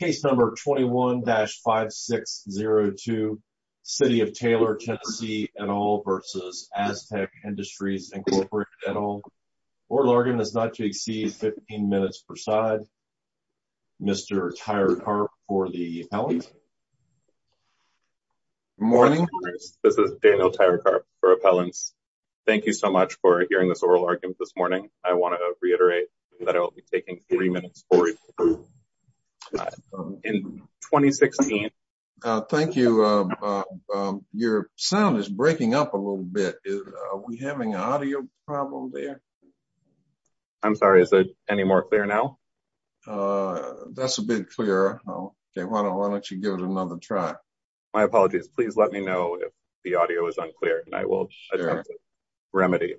Case number 21-5602, City of Taylor, TN v. Astec Industries Inc. Oral argument is not to exceed 15 minutes per side. Mr. Tyrekarp for the appellant. Good morning. This is Daniel Tyrekarp for appellants. Thank you so much for hearing this oral argument this morning. I want to reiterate that I will be taking three minutes for you. In 2016... Thank you. Your sound is breaking up a little bit. Are we having an audio problem there? I'm sorry. Is there any more clear now? That's a bit clearer. Why don't you give it another try? My apologies. Please let me know if the audio is unclear and I will attempt to remedy.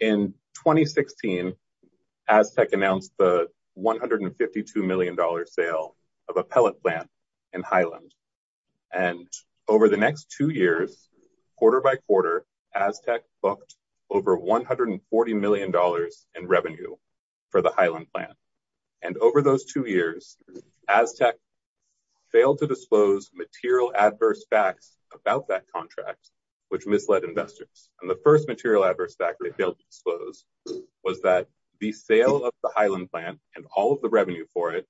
In 2016, Astec announced the $152 million sale of appellant plant in Highland. And over the next two years, quarter by quarter, Astec booked over $140 million in revenue for the Highland plant. And over those two years, Astec failed to disclose material adverse facts about that contract, which misled investors. And the first material adverse fact they failed to disclose was that the sale of the Highland plant and all of the revenue for it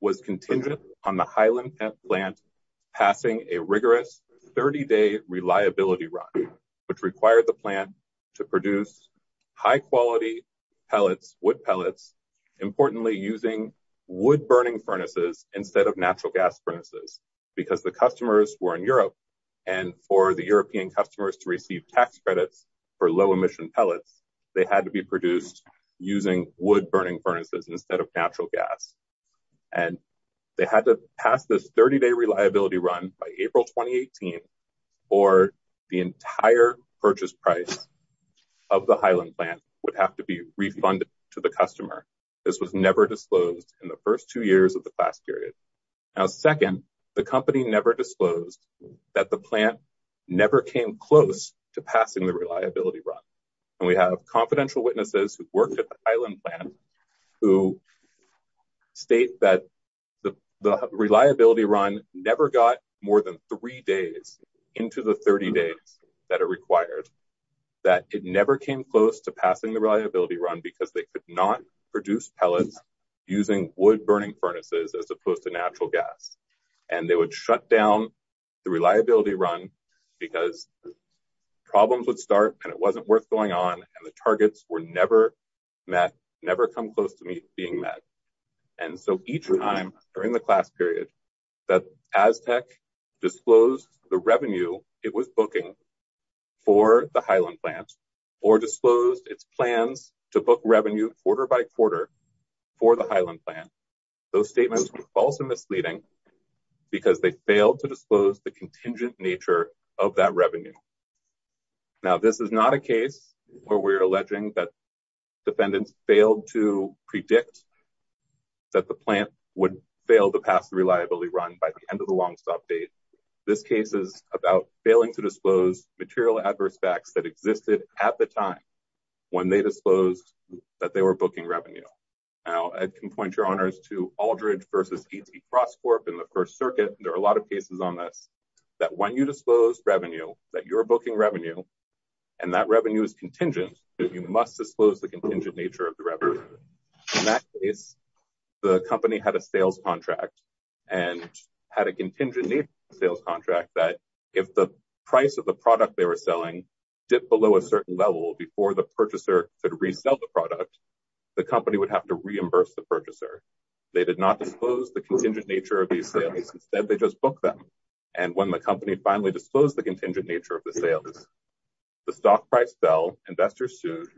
was contingent on the Highland plant passing a rigorous 30-day reliability run, which required the plant to produce high-quality pellets, wood pellets, importantly using wood-burning furnaces instead of natural gas furnaces, because the customers were in Europe and for the European customers to receive tax credits for low-emission pellets, they had to be produced using wood-burning furnaces instead of natural gas. And they had to pass this 30-day reliability run by April 2018 or the entire purchase price of the Highland plant would have to be refunded to the customer. This was never disclosed in the first two years of the class period. Now, second, the company never disclosed that the plant never came close to passing the reliability run. And we have confidential witnesses who worked at the Highland plant who state that the reliability run never got more than three days into the 30 days that are required, that it never came close to passing the reliability run because they could not produce pellets using wood-burning furnaces as opposed to natural gas. And they would shut down the reliability run because problems would start and it wasn't worth going on and the targets were never met, never come close to being met. And so each time during the class period that Aztec disclosed the revenue it was booking for the Highland plant or disclosed its plans to book revenue quarter by quarter for the Highland plant, those statements were false and misleading because they failed to disclose the contingent nature of that revenue. Now, this is not a case where we're alleging that defendants failed to predict that the plant would fail to pass the reliability run by the end of the longstop date. This case is about failing to disclose material adverse facts that existed at the time when they disclosed that they were booking revenue. Now, I can point your honors to Aldridge v. E.T. Crosscorp in the First Circuit. There are a lot of cases on this that when you disclose revenue that you're booking revenue and that revenue is contingent, you must disclose the contingent nature of the revenue. In that case, the company had a sales contract and had a contingent sales contract that if the price of the product they were selling dipped below a certain level before the purchaser could resell the product, the company would have to reimburse the purchaser. They did not disclose the contingent nature of these sales. Instead, they just booked them. And when the company finally disclosed the contingent nature of the sales, the stock price fell. Investors sued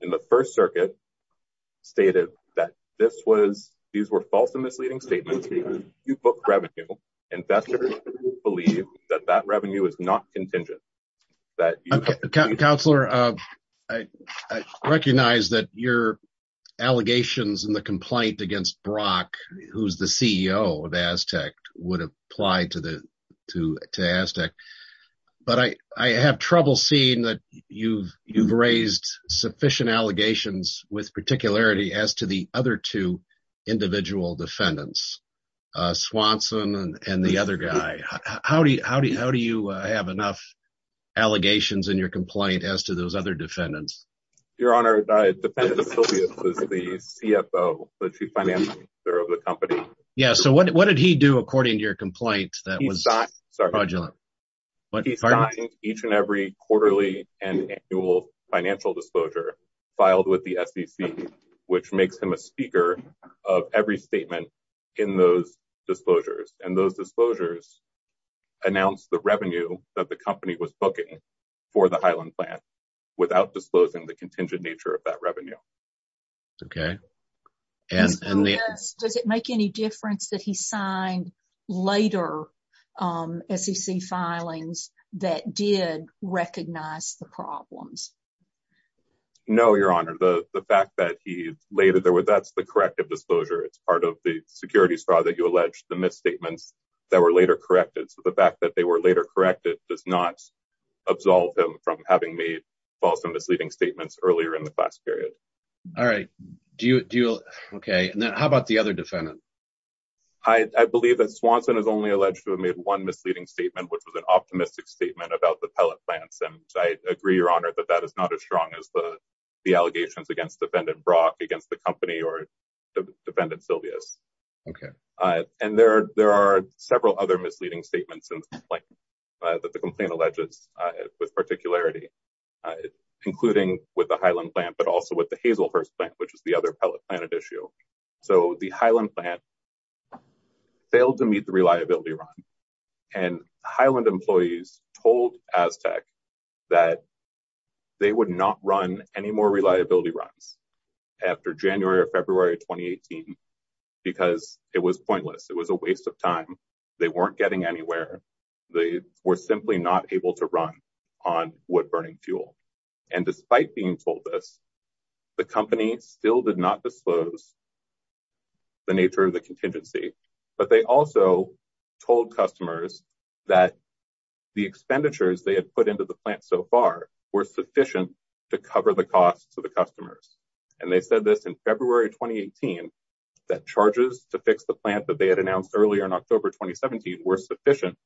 in the First Circuit stated that this was these were false and misleading statements. You book revenue. Investors believe that that revenue is not contingent. Counselor, I recognize that your allegations in the complaint against Brock, who's the CEO of Aztec, would apply to the to to Aztec. But I I have trouble seeing that you've you've raised sufficient allegations with particularity as to the other two individual defendants, Swanson and the other guy. How do you how do you how do you have enough allegations in your complaint as to those other defendants? Your Honor, the defendant is the CFO, the chief financial officer of the company. Yeah. So what did he do according to your complaint? He signed each and every quarterly and annual financial disclosure filed with the SEC, which makes him a speaker of every statement in those disclosures. And those disclosures announced the revenue that the company was booking for the Highland plant without disclosing the contingent nature of that revenue. OK. And does it make any difference that he signed later SEC filings that did recognize the problems? No, Your Honor, the fact that he later there were that's the corrective disclosure. It's part of the security straw that you allege the misstatements that were later corrected. So the fact that they were later corrected does not absolve him from having made false and misleading statements earlier in the class period. All right. Do you deal? OK. And then how about the other defendant? I believe that Swanson is only alleged to have made one misleading statement, which was an optimistic statement about the pellet plants. And I agree, Your Honor, that that is not as strong as the the allegations against defendant Brock, against the company or defendant Silvius. OK. And there are there are several other misleading statements in the complaint that the complaint alleges with particularity, including with the Highland plant, but also with the Hazelhurst plant, which is the other pellet planet issue. So the Highland plant failed to meet the reliability run and Highland employees told Aztec that they would not run any more reliability runs after January or February 2018 because it was pointless. It was a waste of time. They weren't getting anywhere. They were simply not able to run on wood burning fuel. And despite being told this, the company still did not disclose the nature of the contingency. But they also told customers that the expenditures they had put into the plant so far were sufficient to cover the costs to the customers. And they said this in February 2018, that charges to fix the plant that they had announced earlier in October 2017 were sufficient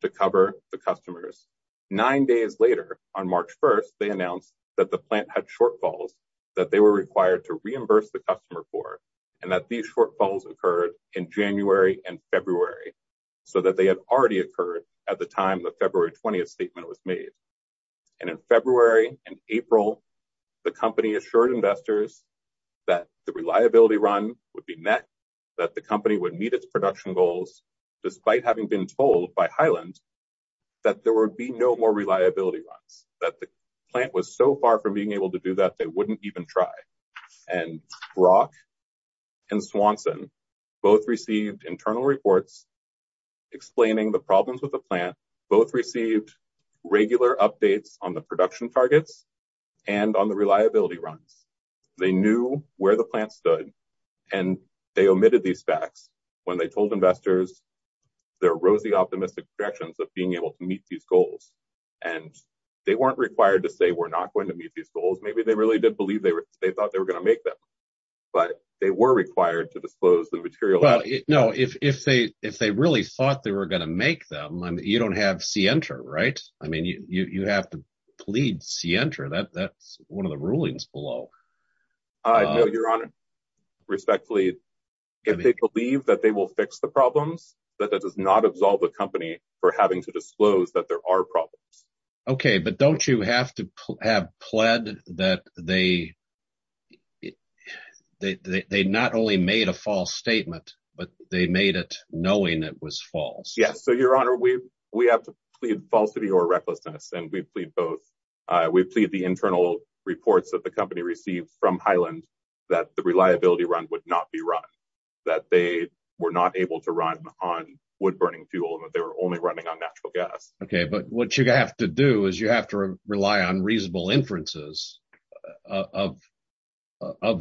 to cover the customers. Nine days later, on March 1st, they announced that the plant had shortfalls that they were required to reimburse the customer for, and that these shortfalls occurred in January and February so that they had already occurred at the time the February 20th statement was made. And in February and April, the company assured investors that the reliability run would be met, that the company would meet its production goals, despite having been told by Highland that there would be no more reliability runs, that the plant was so far from being able to do that they wouldn't even try. And Brock and Swanson both received internal reports explaining the problems with the plant. Both received regular updates on the production targets and on the reliability runs. They knew where the plant stood, and they omitted these facts when they told investors their rosy optimistic projections of being able to meet these goals. And they weren't required to say we're not going to meet these goals. Maybe they really did believe they thought they were going to make them, but they were required to disclose the material. Well, no, if they really thought they were going to make them, you don't have scienter, right? I mean, you have to plead scienter. That's one of the rulings below. Your Honor, respectfully, if they believe that they will fix the problems, that does not absolve a company for having to disclose that there are problems. Okay, but don't you have to have pled that they not only made a false statement, but they made it knowing it was false? Yes. So, Your Honor, we have to plead falsity or recklessness, and we plead both. We plead the internal reports that the company received from Highland that the reliability run would not be run, that they were not able to run on wood-burning fuel, and that they were only running on natural gas. Okay, but what you have to do is you have to rely on reasonable inferences of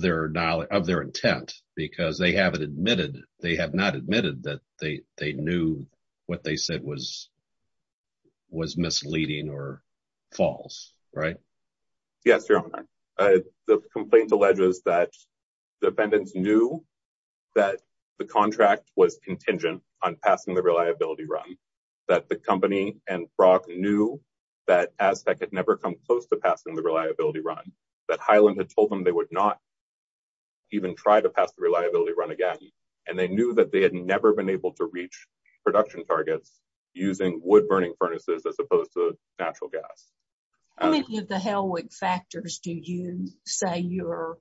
their intent, because they have not admitted that they knew what they said was misleading or false, right? Yes, Your Honor. The complaint alleges that the defendants knew that the contract was contingent on passing the reliability run, that the company and Brock knew that Aztec had never come close to passing the reliability run, that Highland had told them they would not even try to pass the reliability run again, and they knew that they had never been able to reach production targets using wood-burning furnaces as opposed to natural gas. How many of the Helwig factors do you say your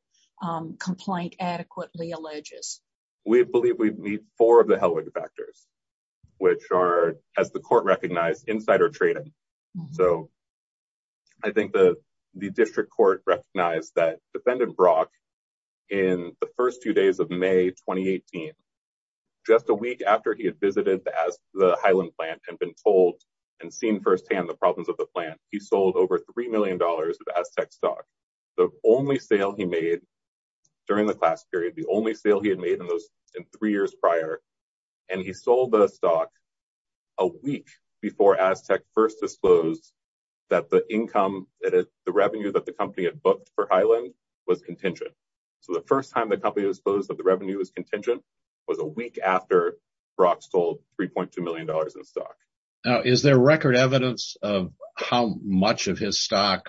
complaint adequately alleges? We believe we meet four of the Helwig factors, which are, as the court recognized, insider trading. So I think the district court recognized that Defendant Brock, in the first two days of May 2018, just a week after he had visited the Highland plant and been told and seen firsthand the problems of the plant, he sold over $3 million of Aztec stock. The only sale he made during the class period, the only sale he had made in three years prior, and he sold the stock a week before Aztec first disclosed that the income, the revenue that the company had booked for Highland was contingent. So the first time the company disclosed that the revenue was contingent was a week after Brock sold $3.2 million in stock. Now, is there record evidence of how much of his stock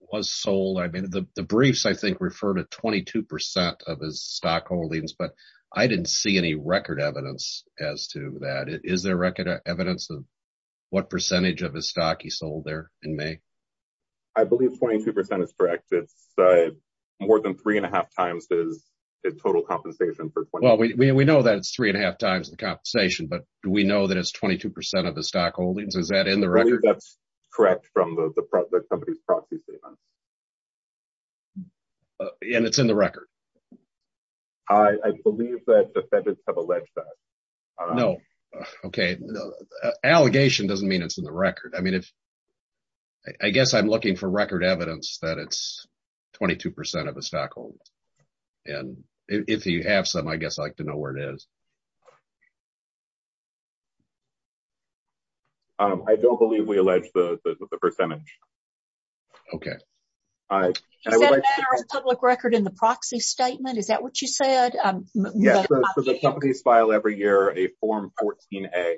was sold? I mean, the briefs, I think, refer to 22 percent of his stock holdings, but I didn't see any record evidence as to that. Is there record evidence of what percentage of his stock he sold there in May? I believe 22 percent is correct. It's more than three and a half times his total compensation. Well, we know that it's three and a half times the compensation, but we know that it's 22 percent of the stock holdings. Is that in the record? That's correct from the company's proxy statement. And it's in the record? I believe that defendants have alleged that. No. Okay. Allegation doesn't mean it's in the record. I mean, I guess I'm looking for record evidence that it's 22 percent of the stock holdings. And if you have some, I guess I'd like to know where it is. I don't believe we allege the percentage. Okay. Is that a matter of public record in the proxy statement? Is that what you said? Yes. Companies file every year a Form 14-A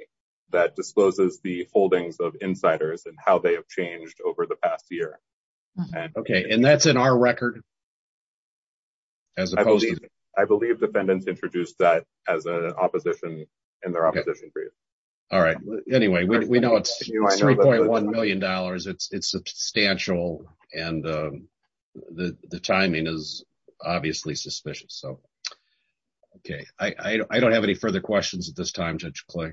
that discloses the holdings of insiders and how they have changed over the past year. Okay. And that's in our record? I believe defendants introduced that as an opposition in their opposition brief. All right. Anyway, we know it's $3.1 million. It's substantial. And the timing is obviously suspicious. Okay. I don't have any further questions at this time, Judge Clay.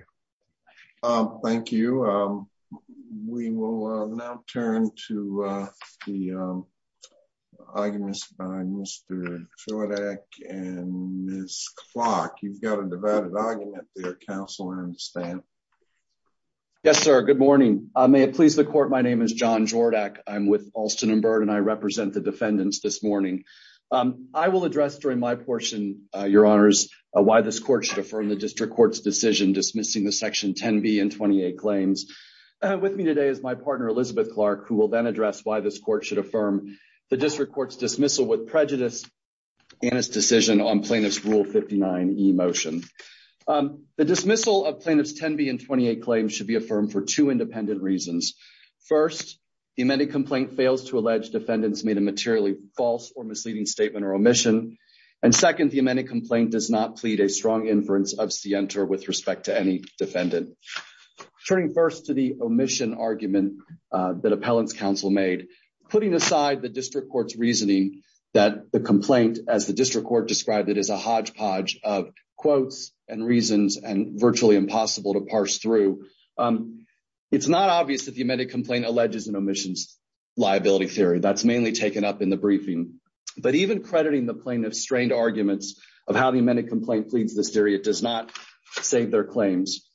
Thank you. We will now turn to the arguments by Mr. Jordach and Ms. Clark. You've got a divided argument there, Counselor and Stan. Yes, sir. Good morning. May it please the court. My name is John Jordach. I'm with Alston & Byrd and I represent the defendants this morning. I will address during my portion, Your Honors, why this court should affirm the district court's decision dismissing the Section 10B and 28 claims. With me today is my partner, Elizabeth Clark, who will then address why this court should affirm the district court's dismissal with prejudice and its decision on Plaintiff's Rule 59e motion. The dismissal of Plaintiff's 10B and 28 claims should be affirmed for two independent reasons. First, the amended complaint fails to allege defendants made a materially false or misleading statement or omission. And second, the amended complaint does not plead a strong inference of scienter with respect to any defendant. Turning first to the omission argument that appellant's counsel made. Putting aside the district court's reasoning that the complaint, as the district court described it, is a hodgepodge of quotes and reasons and virtually impossible to parse through. It's not obvious that the amended complaint alleges an omissions liability theory. That's mainly taken up in the briefing. But even crediting the plaintiff's strained arguments of how the amended complaint pleads this theory, it does not save their claims.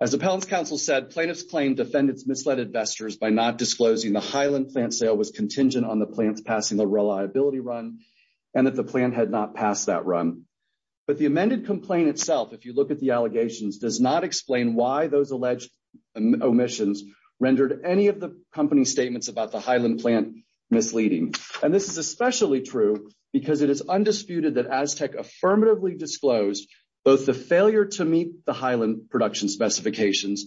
As appellant's counsel said, plaintiff's claim defendants misled investors by not disclosing the Highland plant sale was contingent on the plants passing the reliability run and that the plant had not passed that run. But the amended complaint itself, if you look at the allegations, does not explain why those alleged omissions rendered any of the company's statements about the Highland plant misleading. And this is especially true because it is undisputed that Aztec affirmatively disclosed both the failure to meet the Highland production specifications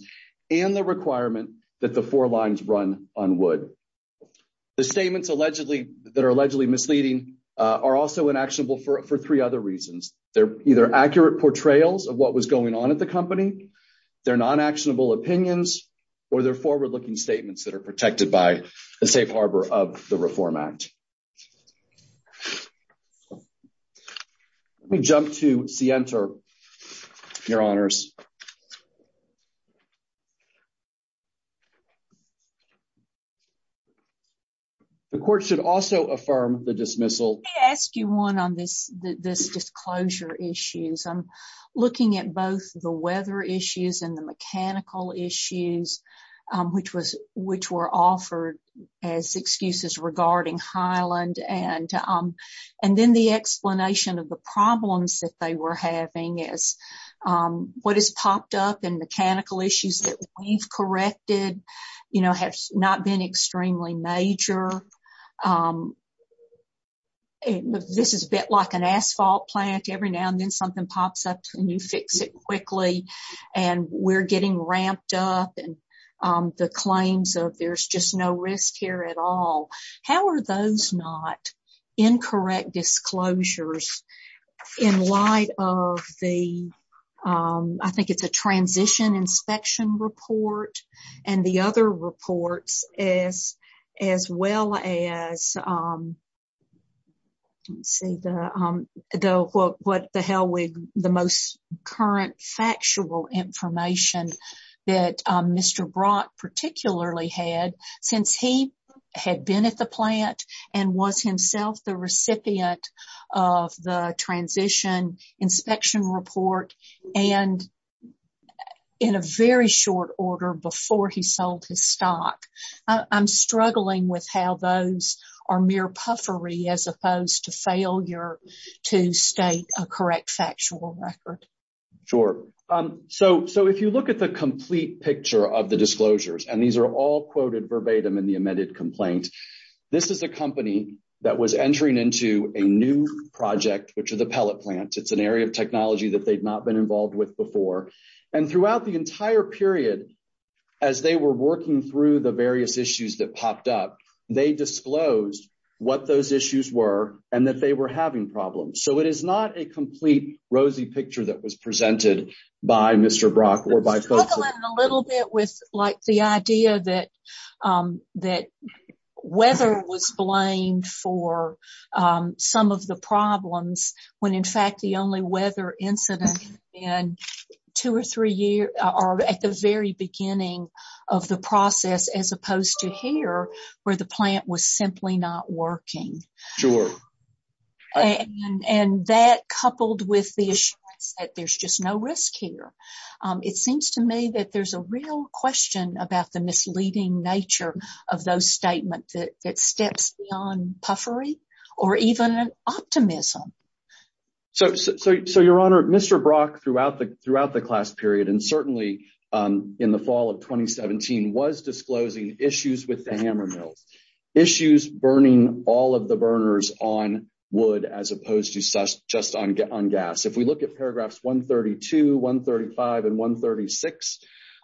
and the requirement that the four lines run on wood. The statements that are allegedly misleading are also inactionable for three other reasons. They're either accurate portrayals of what was going on at the company, they're non-actionable opinions, or they're forward-looking statements that are protected by the safe harbor of the Reform Act. Let me jump to Sienta, your honors. The court should also affirm the dismissal. Let me ask you one on this disclosure issue. I'm looking at both the weather issues and the mechanical issues, which were offered as excuses regarding Highland. And then the explanation of the problems that they were having is what has popped up and mechanical issues that we've corrected have not been extremely major. This is a bit like an asphalt plant, every now and then something pops up and you fix it quickly and we're getting ramped up. The claims of there's just no risk here at all, how are those not incorrect disclosures in light of the, I think it's a transition inspection report and the other reports as well as, let's see, the most current factual information that Mr. Brock particularly had since he had been at the plant and was himself the recipient of the transition inspection report and in a very short order before he sold his stock. I'm struggling with how those are mere puffery as opposed to failure to state a correct factual record. Sure. So, so if you look at the complete picture of the disclosures and these are all quoted verbatim in the amended complaint. This is a company that was entering into a new project which are the pellet plant it's an area of technology that they've not been involved with before. And throughout the entire period. As they were working through the various issues that popped up, they disclosed what those issues were, and that they were having problems so it is not a complete rosy picture that was presented by Mr Brock or by a little bit with, like, the idea that that weather was blamed for some of the problems when in fact the only weather incident, and two or three years, or at the very beginning of the process as opposed to here, where the plant was simply not working. Sure. And that coupled with the issue that there's just no risk here. It seems to me that there's a real question about the misleading nature of those statements that steps on puffery, or even an optimism. So, so your honor Mr Brock throughout the throughout the class period and certainly in the fall of 2017 was disclosing issues with the hammer mills issues burning all of the burners on would as opposed to such just on get on gas if we look at paragraphs 132 135 and 136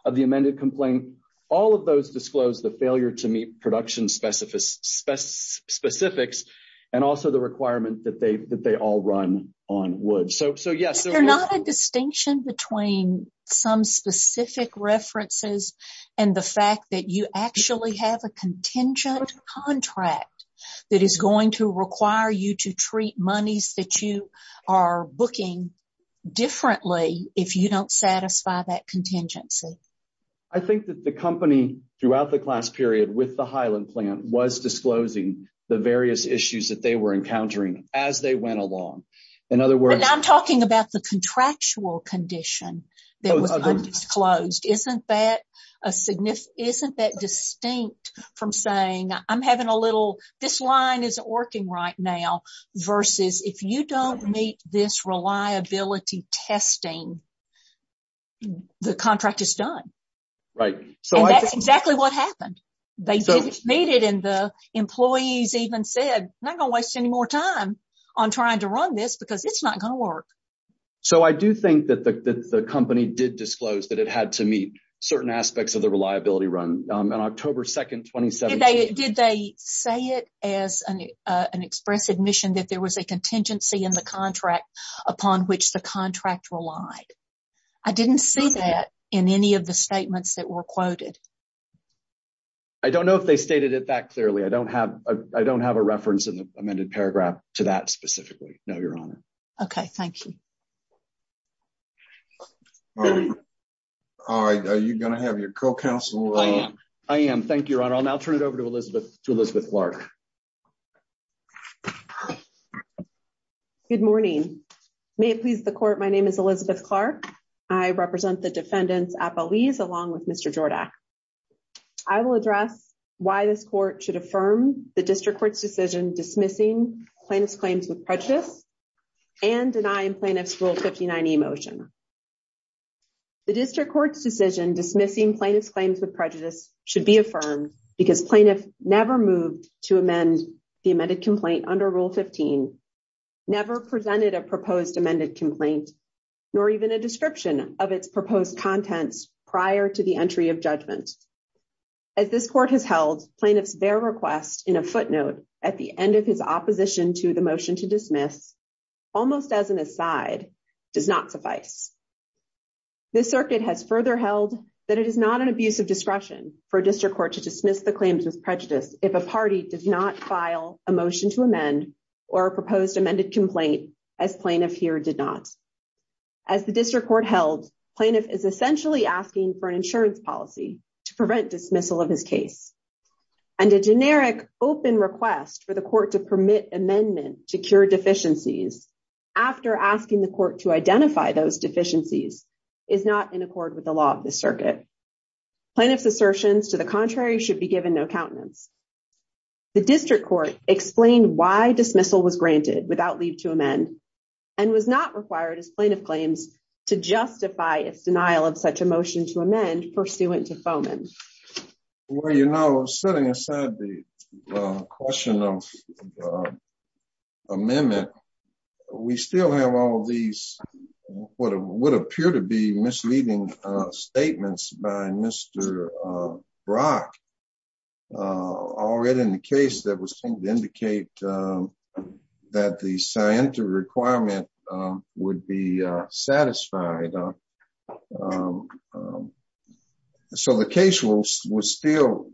of the amended complaint. All of those disclose the failure to meet production specific spec specifics, and also the requirement that they that they all run on would so so yes they're not a distinction between some specific references, and the fact that you actually have a contingent contract that is going to require you to treat monies that you are booking differently. If you don't satisfy that contingency. I think that the company throughout the class period with the Highland plant was disclosing the various issues that they were encountering as they went along. In other words, I'm talking about the contractual condition. Closed isn't that a significant isn't that distinct from saying I'm having a little. This line is working right now, versus if you don't meet this reliability testing. The contract is done right so that's exactly what happened. They didn't need it in the employees even said not gonna waste any more time on trying to run this because it's not going to work. So I do think that the company did disclose that it had to meet certain aspects of the reliability run on October 2 2017 they did they say it as an expressive mission that there was a contingency in the contract, upon which the contract relied. I didn't say that in any of the statements that were quoted. I don't know if they stated it that clearly I don't have, I don't have a reference in the amended paragraph to that specifically know your honor. Okay, thank you. All right, are you going to have your co counsel. I am thank your honor I'll now turn it over to Elizabeth to Elizabeth Clark. Good morning. May it please the court. My name is Elizabeth Clark. I represent the defendants at Belize along with Mr Jordan. I will address why this court should affirm the district court's decision dismissing plaintiff's claims with prejudice and denying plaintiffs will 59 emotion. The district court's decision dismissing plaintiff's claims with prejudice should be affirmed because plaintiff never moved to amend the amended complaint under rule 15 never presented a proposed amended complaint, nor even a description of its proposed contents prior to the entry of judgment. As this court has held plaintiffs their request in a footnote at the end of his opposition to the motion to dismiss, almost as an aside, does not suffice. This circuit has further held that it is not an abuse of discretion for district court to dismiss the claims with prejudice, if a party does not file a motion to amend or proposed amended complaint as plaintiff here did not. As the district court held plaintiff is essentially asking for an insurance policy to prevent dismissal of his case and a generic open request for the court to permit amendment to cure deficiencies. After asking the court to identify those deficiencies is not in accord with the law of the circuit plaintiffs assertions to the contrary should be given no countenance. The district court explained why dismissal was granted without leave to amend and was not required as plaintiff claims to justify its denial of such a motion to amend pursuant to foment. Well, you know, setting aside the question of amendment. We still have all these what would appear to be misleading statements by Mr. Brock. Already in the case that was going to indicate that the scientific requirement would be satisfied. So the case was was still,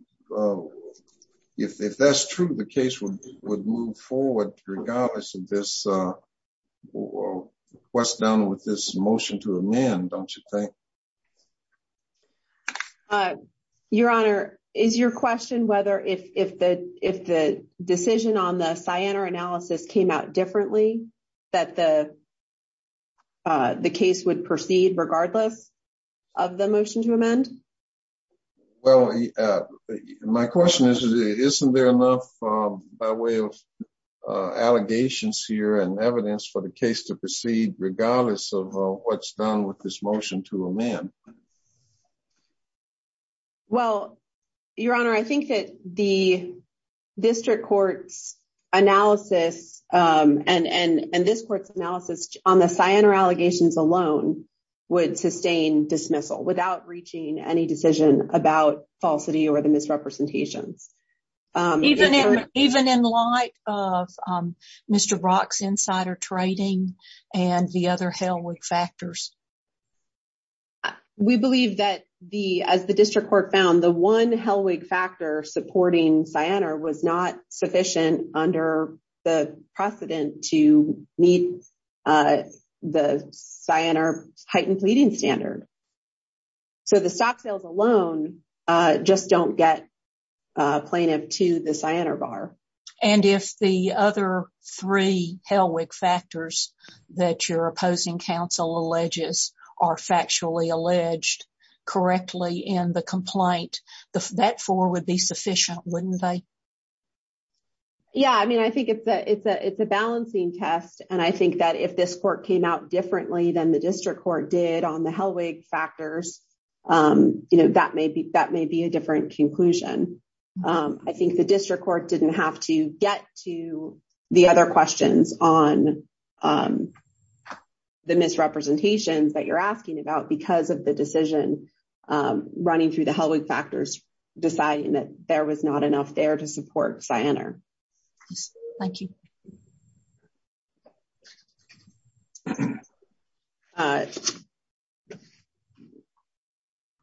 if that's true, the case would would move forward regardless of this was done with this motion to amend, don't you think. Your Honor, is your question whether if the, if the decision on the cyanide analysis came out differently that the, the case would proceed regardless of the motion to amend. Well, my question is, isn't there enough by way of allegations here and evidence for the case to proceed regardless of what's done with this motion to amend. Well, Your Honor, I think that the district court's analysis and this court's analysis on the cyanide allegations alone would sustain dismissal without reaching any decision about falsity or the misrepresentations. Even in light of Mr. Brock's insider trading and the other factors. We believe that the as the district court found the one Helwig factor supporting cyanide was not sufficient under the precedent to meet the cyanide heightened bleeding standard. So the stock sales alone just don't get plaintiff to the cyanide bar. And if the other three Helwig factors that your opposing counsel alleges are factually alleged correctly in the complaint, that four would be sufficient, wouldn't they? Yeah, I mean, I think it's a it's a it's a balancing test. And I think that if this court came out differently than the district court did on the Helwig factors, you know, that may be that may be a different conclusion. I think the district court didn't have to get to the other questions on the misrepresentations that you're asking about because of the decision running through the Helwig factors, deciding that there was not enough there to support cyanide. Thank you.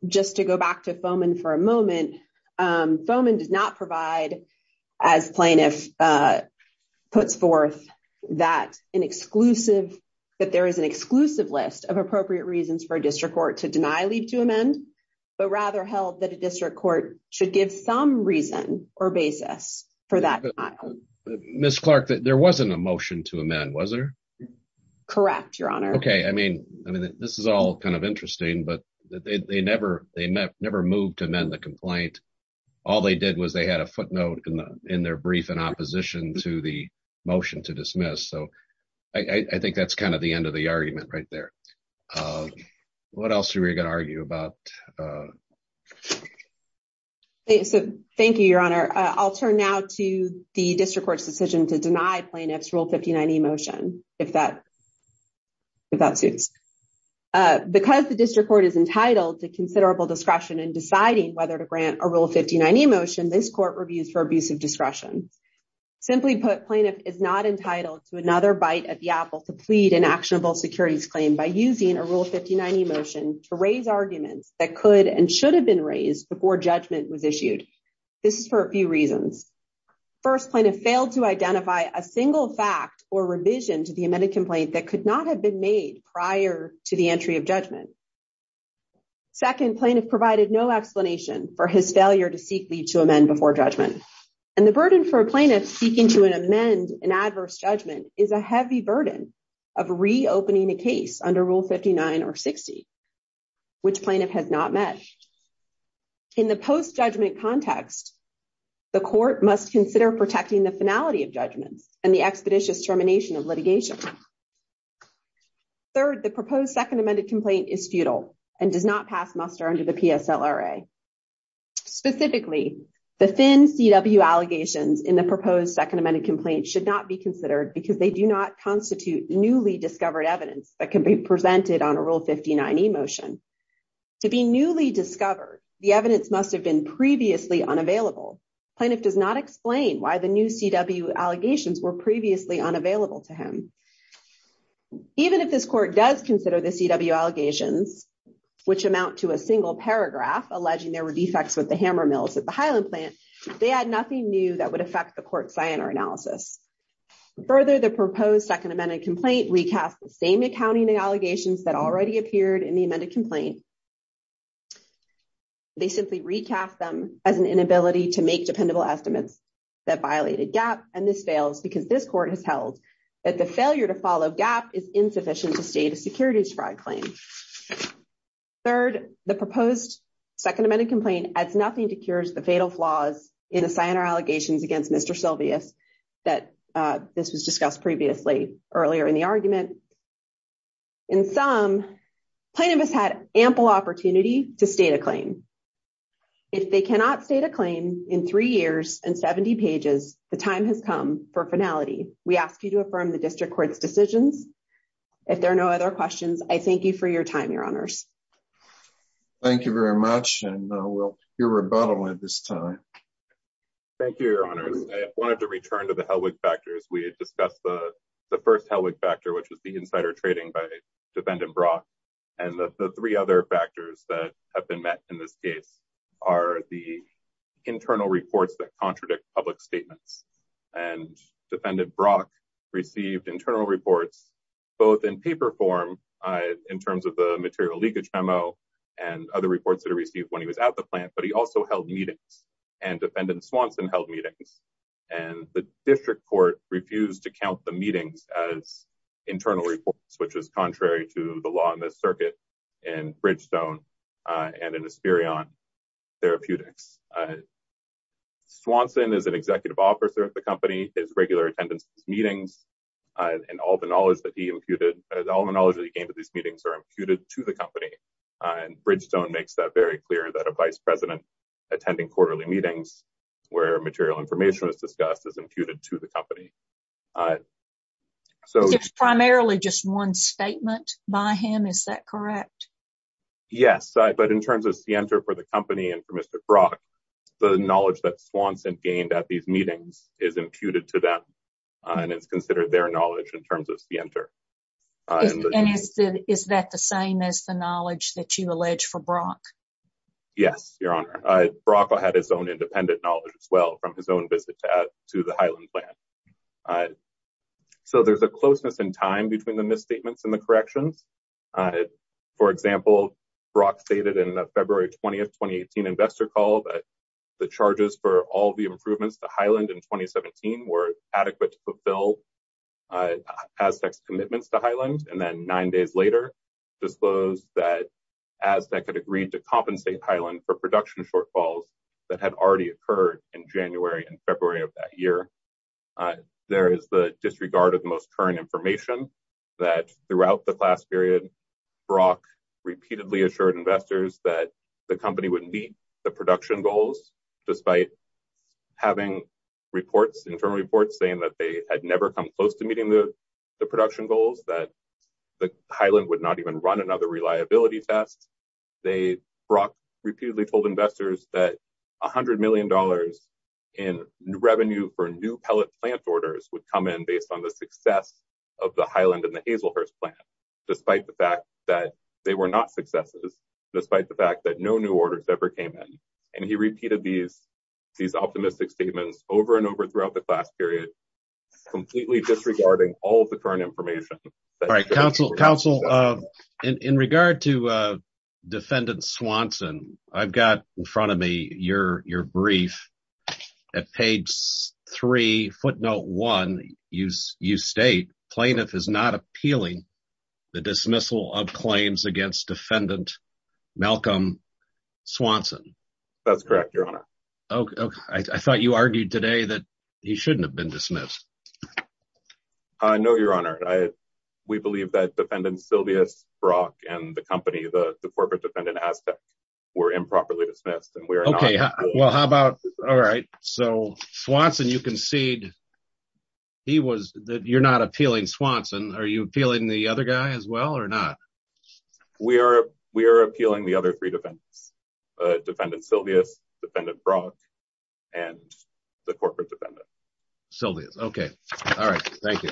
Just to go back to Foeman for a moment, Foeman does not provide as plaintiff puts forth that an exclusive that there is an exclusive list of appropriate reasons for a district court to deny leave to amend, but rather held that a district court should give some reason or basis for that. Ms. Clark, there wasn't a motion to amend, was there? Correct, Your Honor. OK, I mean, I mean, this is all kind of interesting, but they never they never moved to amend the complaint. All they did was they had a footnote in their brief in opposition to the motion to dismiss. So I think that's kind of the end of the argument right there. What else are we going to argue about? So thank you, Your Honor. I'll turn now to the district court's decision to deny plaintiff's Rule 59E motion, if that if that suits. Because the district court is entitled to considerable discretion in deciding whether to grant a Rule 59E motion, this court reviews for abuse of discretion. Simply put, plaintiff is not entitled to another bite at the apple to plead an actionable securities claim by using a Rule 59E motion to raise arguments that could and should have been raised before judgment was issued. This is for a few reasons. First, plaintiff failed to identify a single fact or revision to the amended complaint that could not have been made prior to the entry of judgment. Second, plaintiff provided no explanation for his failure to seek leave to amend before judgment. And the burden for a plaintiff seeking to amend an adverse judgment is a heavy burden of reopening a case under Rule 59 or 60, which plaintiff has not met. In the post judgment context, the court must consider protecting the finality of judgments and the expeditious termination of litigation. Third, the proposed second amended complaint is futile and does not pass muster under the PSLRA. Specifically, the thin CW allegations in the proposed second amended complaint should not be considered because they do not constitute newly discovered evidence that can be presented on a Rule 59E motion. To be newly discovered, the evidence must have been previously unavailable. Plaintiff does not explain why the new CW allegations were previously unavailable to him. Even if this court does consider the CW allegations, which amount to a single paragraph, alleging there were defects with the hammer mills at the Highland plant, they add nothing new that would affect the court's SINR analysis. Further, the proposed second amended complaint recasts the same accounting allegations that already appeared in the amended complaint. They simply recast them as an inability to make dependable estimates that violated GAP, and this fails because this court has held that the failure to follow GAP is insufficient to state a securities fraud claim. Third, the proposed second amended complaint adds nothing to cure the fatal flaws in the SINR allegations against Mr. Silvius that this was discussed previously earlier in the argument. In sum, plaintiffs had ample opportunity to state a claim. If they cannot state a claim in three years and 70 pages, the time has come for finality. We ask you to affirm the District Court's decisions. If there are no other questions, I thank you for your time, Your Honors. Thank you very much, and we'll hear rebuttal at this time. Thank you, Your Honors. I wanted to return to the Helwig factors. We had discussed the first Helwig factor, which was the insider trading by Defendant Brock, and the three other factors that have been met in this case are the internal reports that contradict public statements. Defendant Brock received internal reports, both in paper form in terms of the material leakage memo and other reports that he received when he was at the plant, but he also held meetings. Defendant Swanson held meetings, and the District Court refused to count the meetings as internal reports, which was contrary to the law in the circuit in Bridgestone and in Asperion Therapeutics. Swanson is an executive officer at the company. His regular attendance at meetings and all the knowledge that he gained at these meetings are imputed to the company, and Bridgestone makes that very clear that a vice president attending quarterly meetings where material information was discussed is imputed to the company. It's primarily just one statement by him, is that correct? Yes, but in terms of scienter for the company and for Mr. Brock, the knowledge that Swanson gained at these meetings is imputed to them, and it's considered their knowledge in terms of scienter. And is that the same as the knowledge that you allege for Brock? Yes, Your Honor. Brock had his own independent knowledge as well from his own visit to the Highland plant. So, there's a closeness in time between the misstatements and the corrections. For example, Brock stated in a February 20th, 2018 investor call that the charges for all the improvements to Highland in 2017 were adequate to fulfill Aztec's commitments to Highland, and then nine days later disclosed that Aztec had agreed to compensate Highland for production shortfalls that had already occurred in January and February of that year. There is the disregard of the most current information that throughout the class period, Brock repeatedly assured investors that the company would meet the production goals, despite having internal reports saying that they had never come close to meeting the production goals, that Highland would not even run another reliability test. Brock repeatedly told investors that $100 million in revenue for new pellet plant orders would come in based on the success of the Highland and the Hazelhurst plant, despite the fact that they were not successes, despite the fact that no new orders ever came in. And he repeated these optimistic statements over and over throughout the class period, completely disregarding all of the current information. All right, counsel, in regard to defendant Swanson, I've got in front of me your brief at page three, footnote one, you state plaintiff is not appealing the dismissal of claims against defendant Malcolm Swanson. That's correct, your honor. I thought you argued today that he shouldn't have been dismissed. No, your honor. We believe that defendant Silvius Brock and the company, the corporate defendant aspect were improperly dismissed. Okay, well, how about all right, so Swanson, you concede he was that you're not appealing Swanson. Are you appealing the other guy as well or not? We are. We are appealing the other three defendants, defendant Silvius, defendant Brock, and the corporate defendant. Silvius. Okay. All right. Thank you.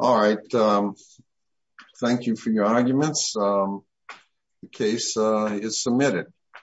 All right. Thank you for your arguments. Case is submitted.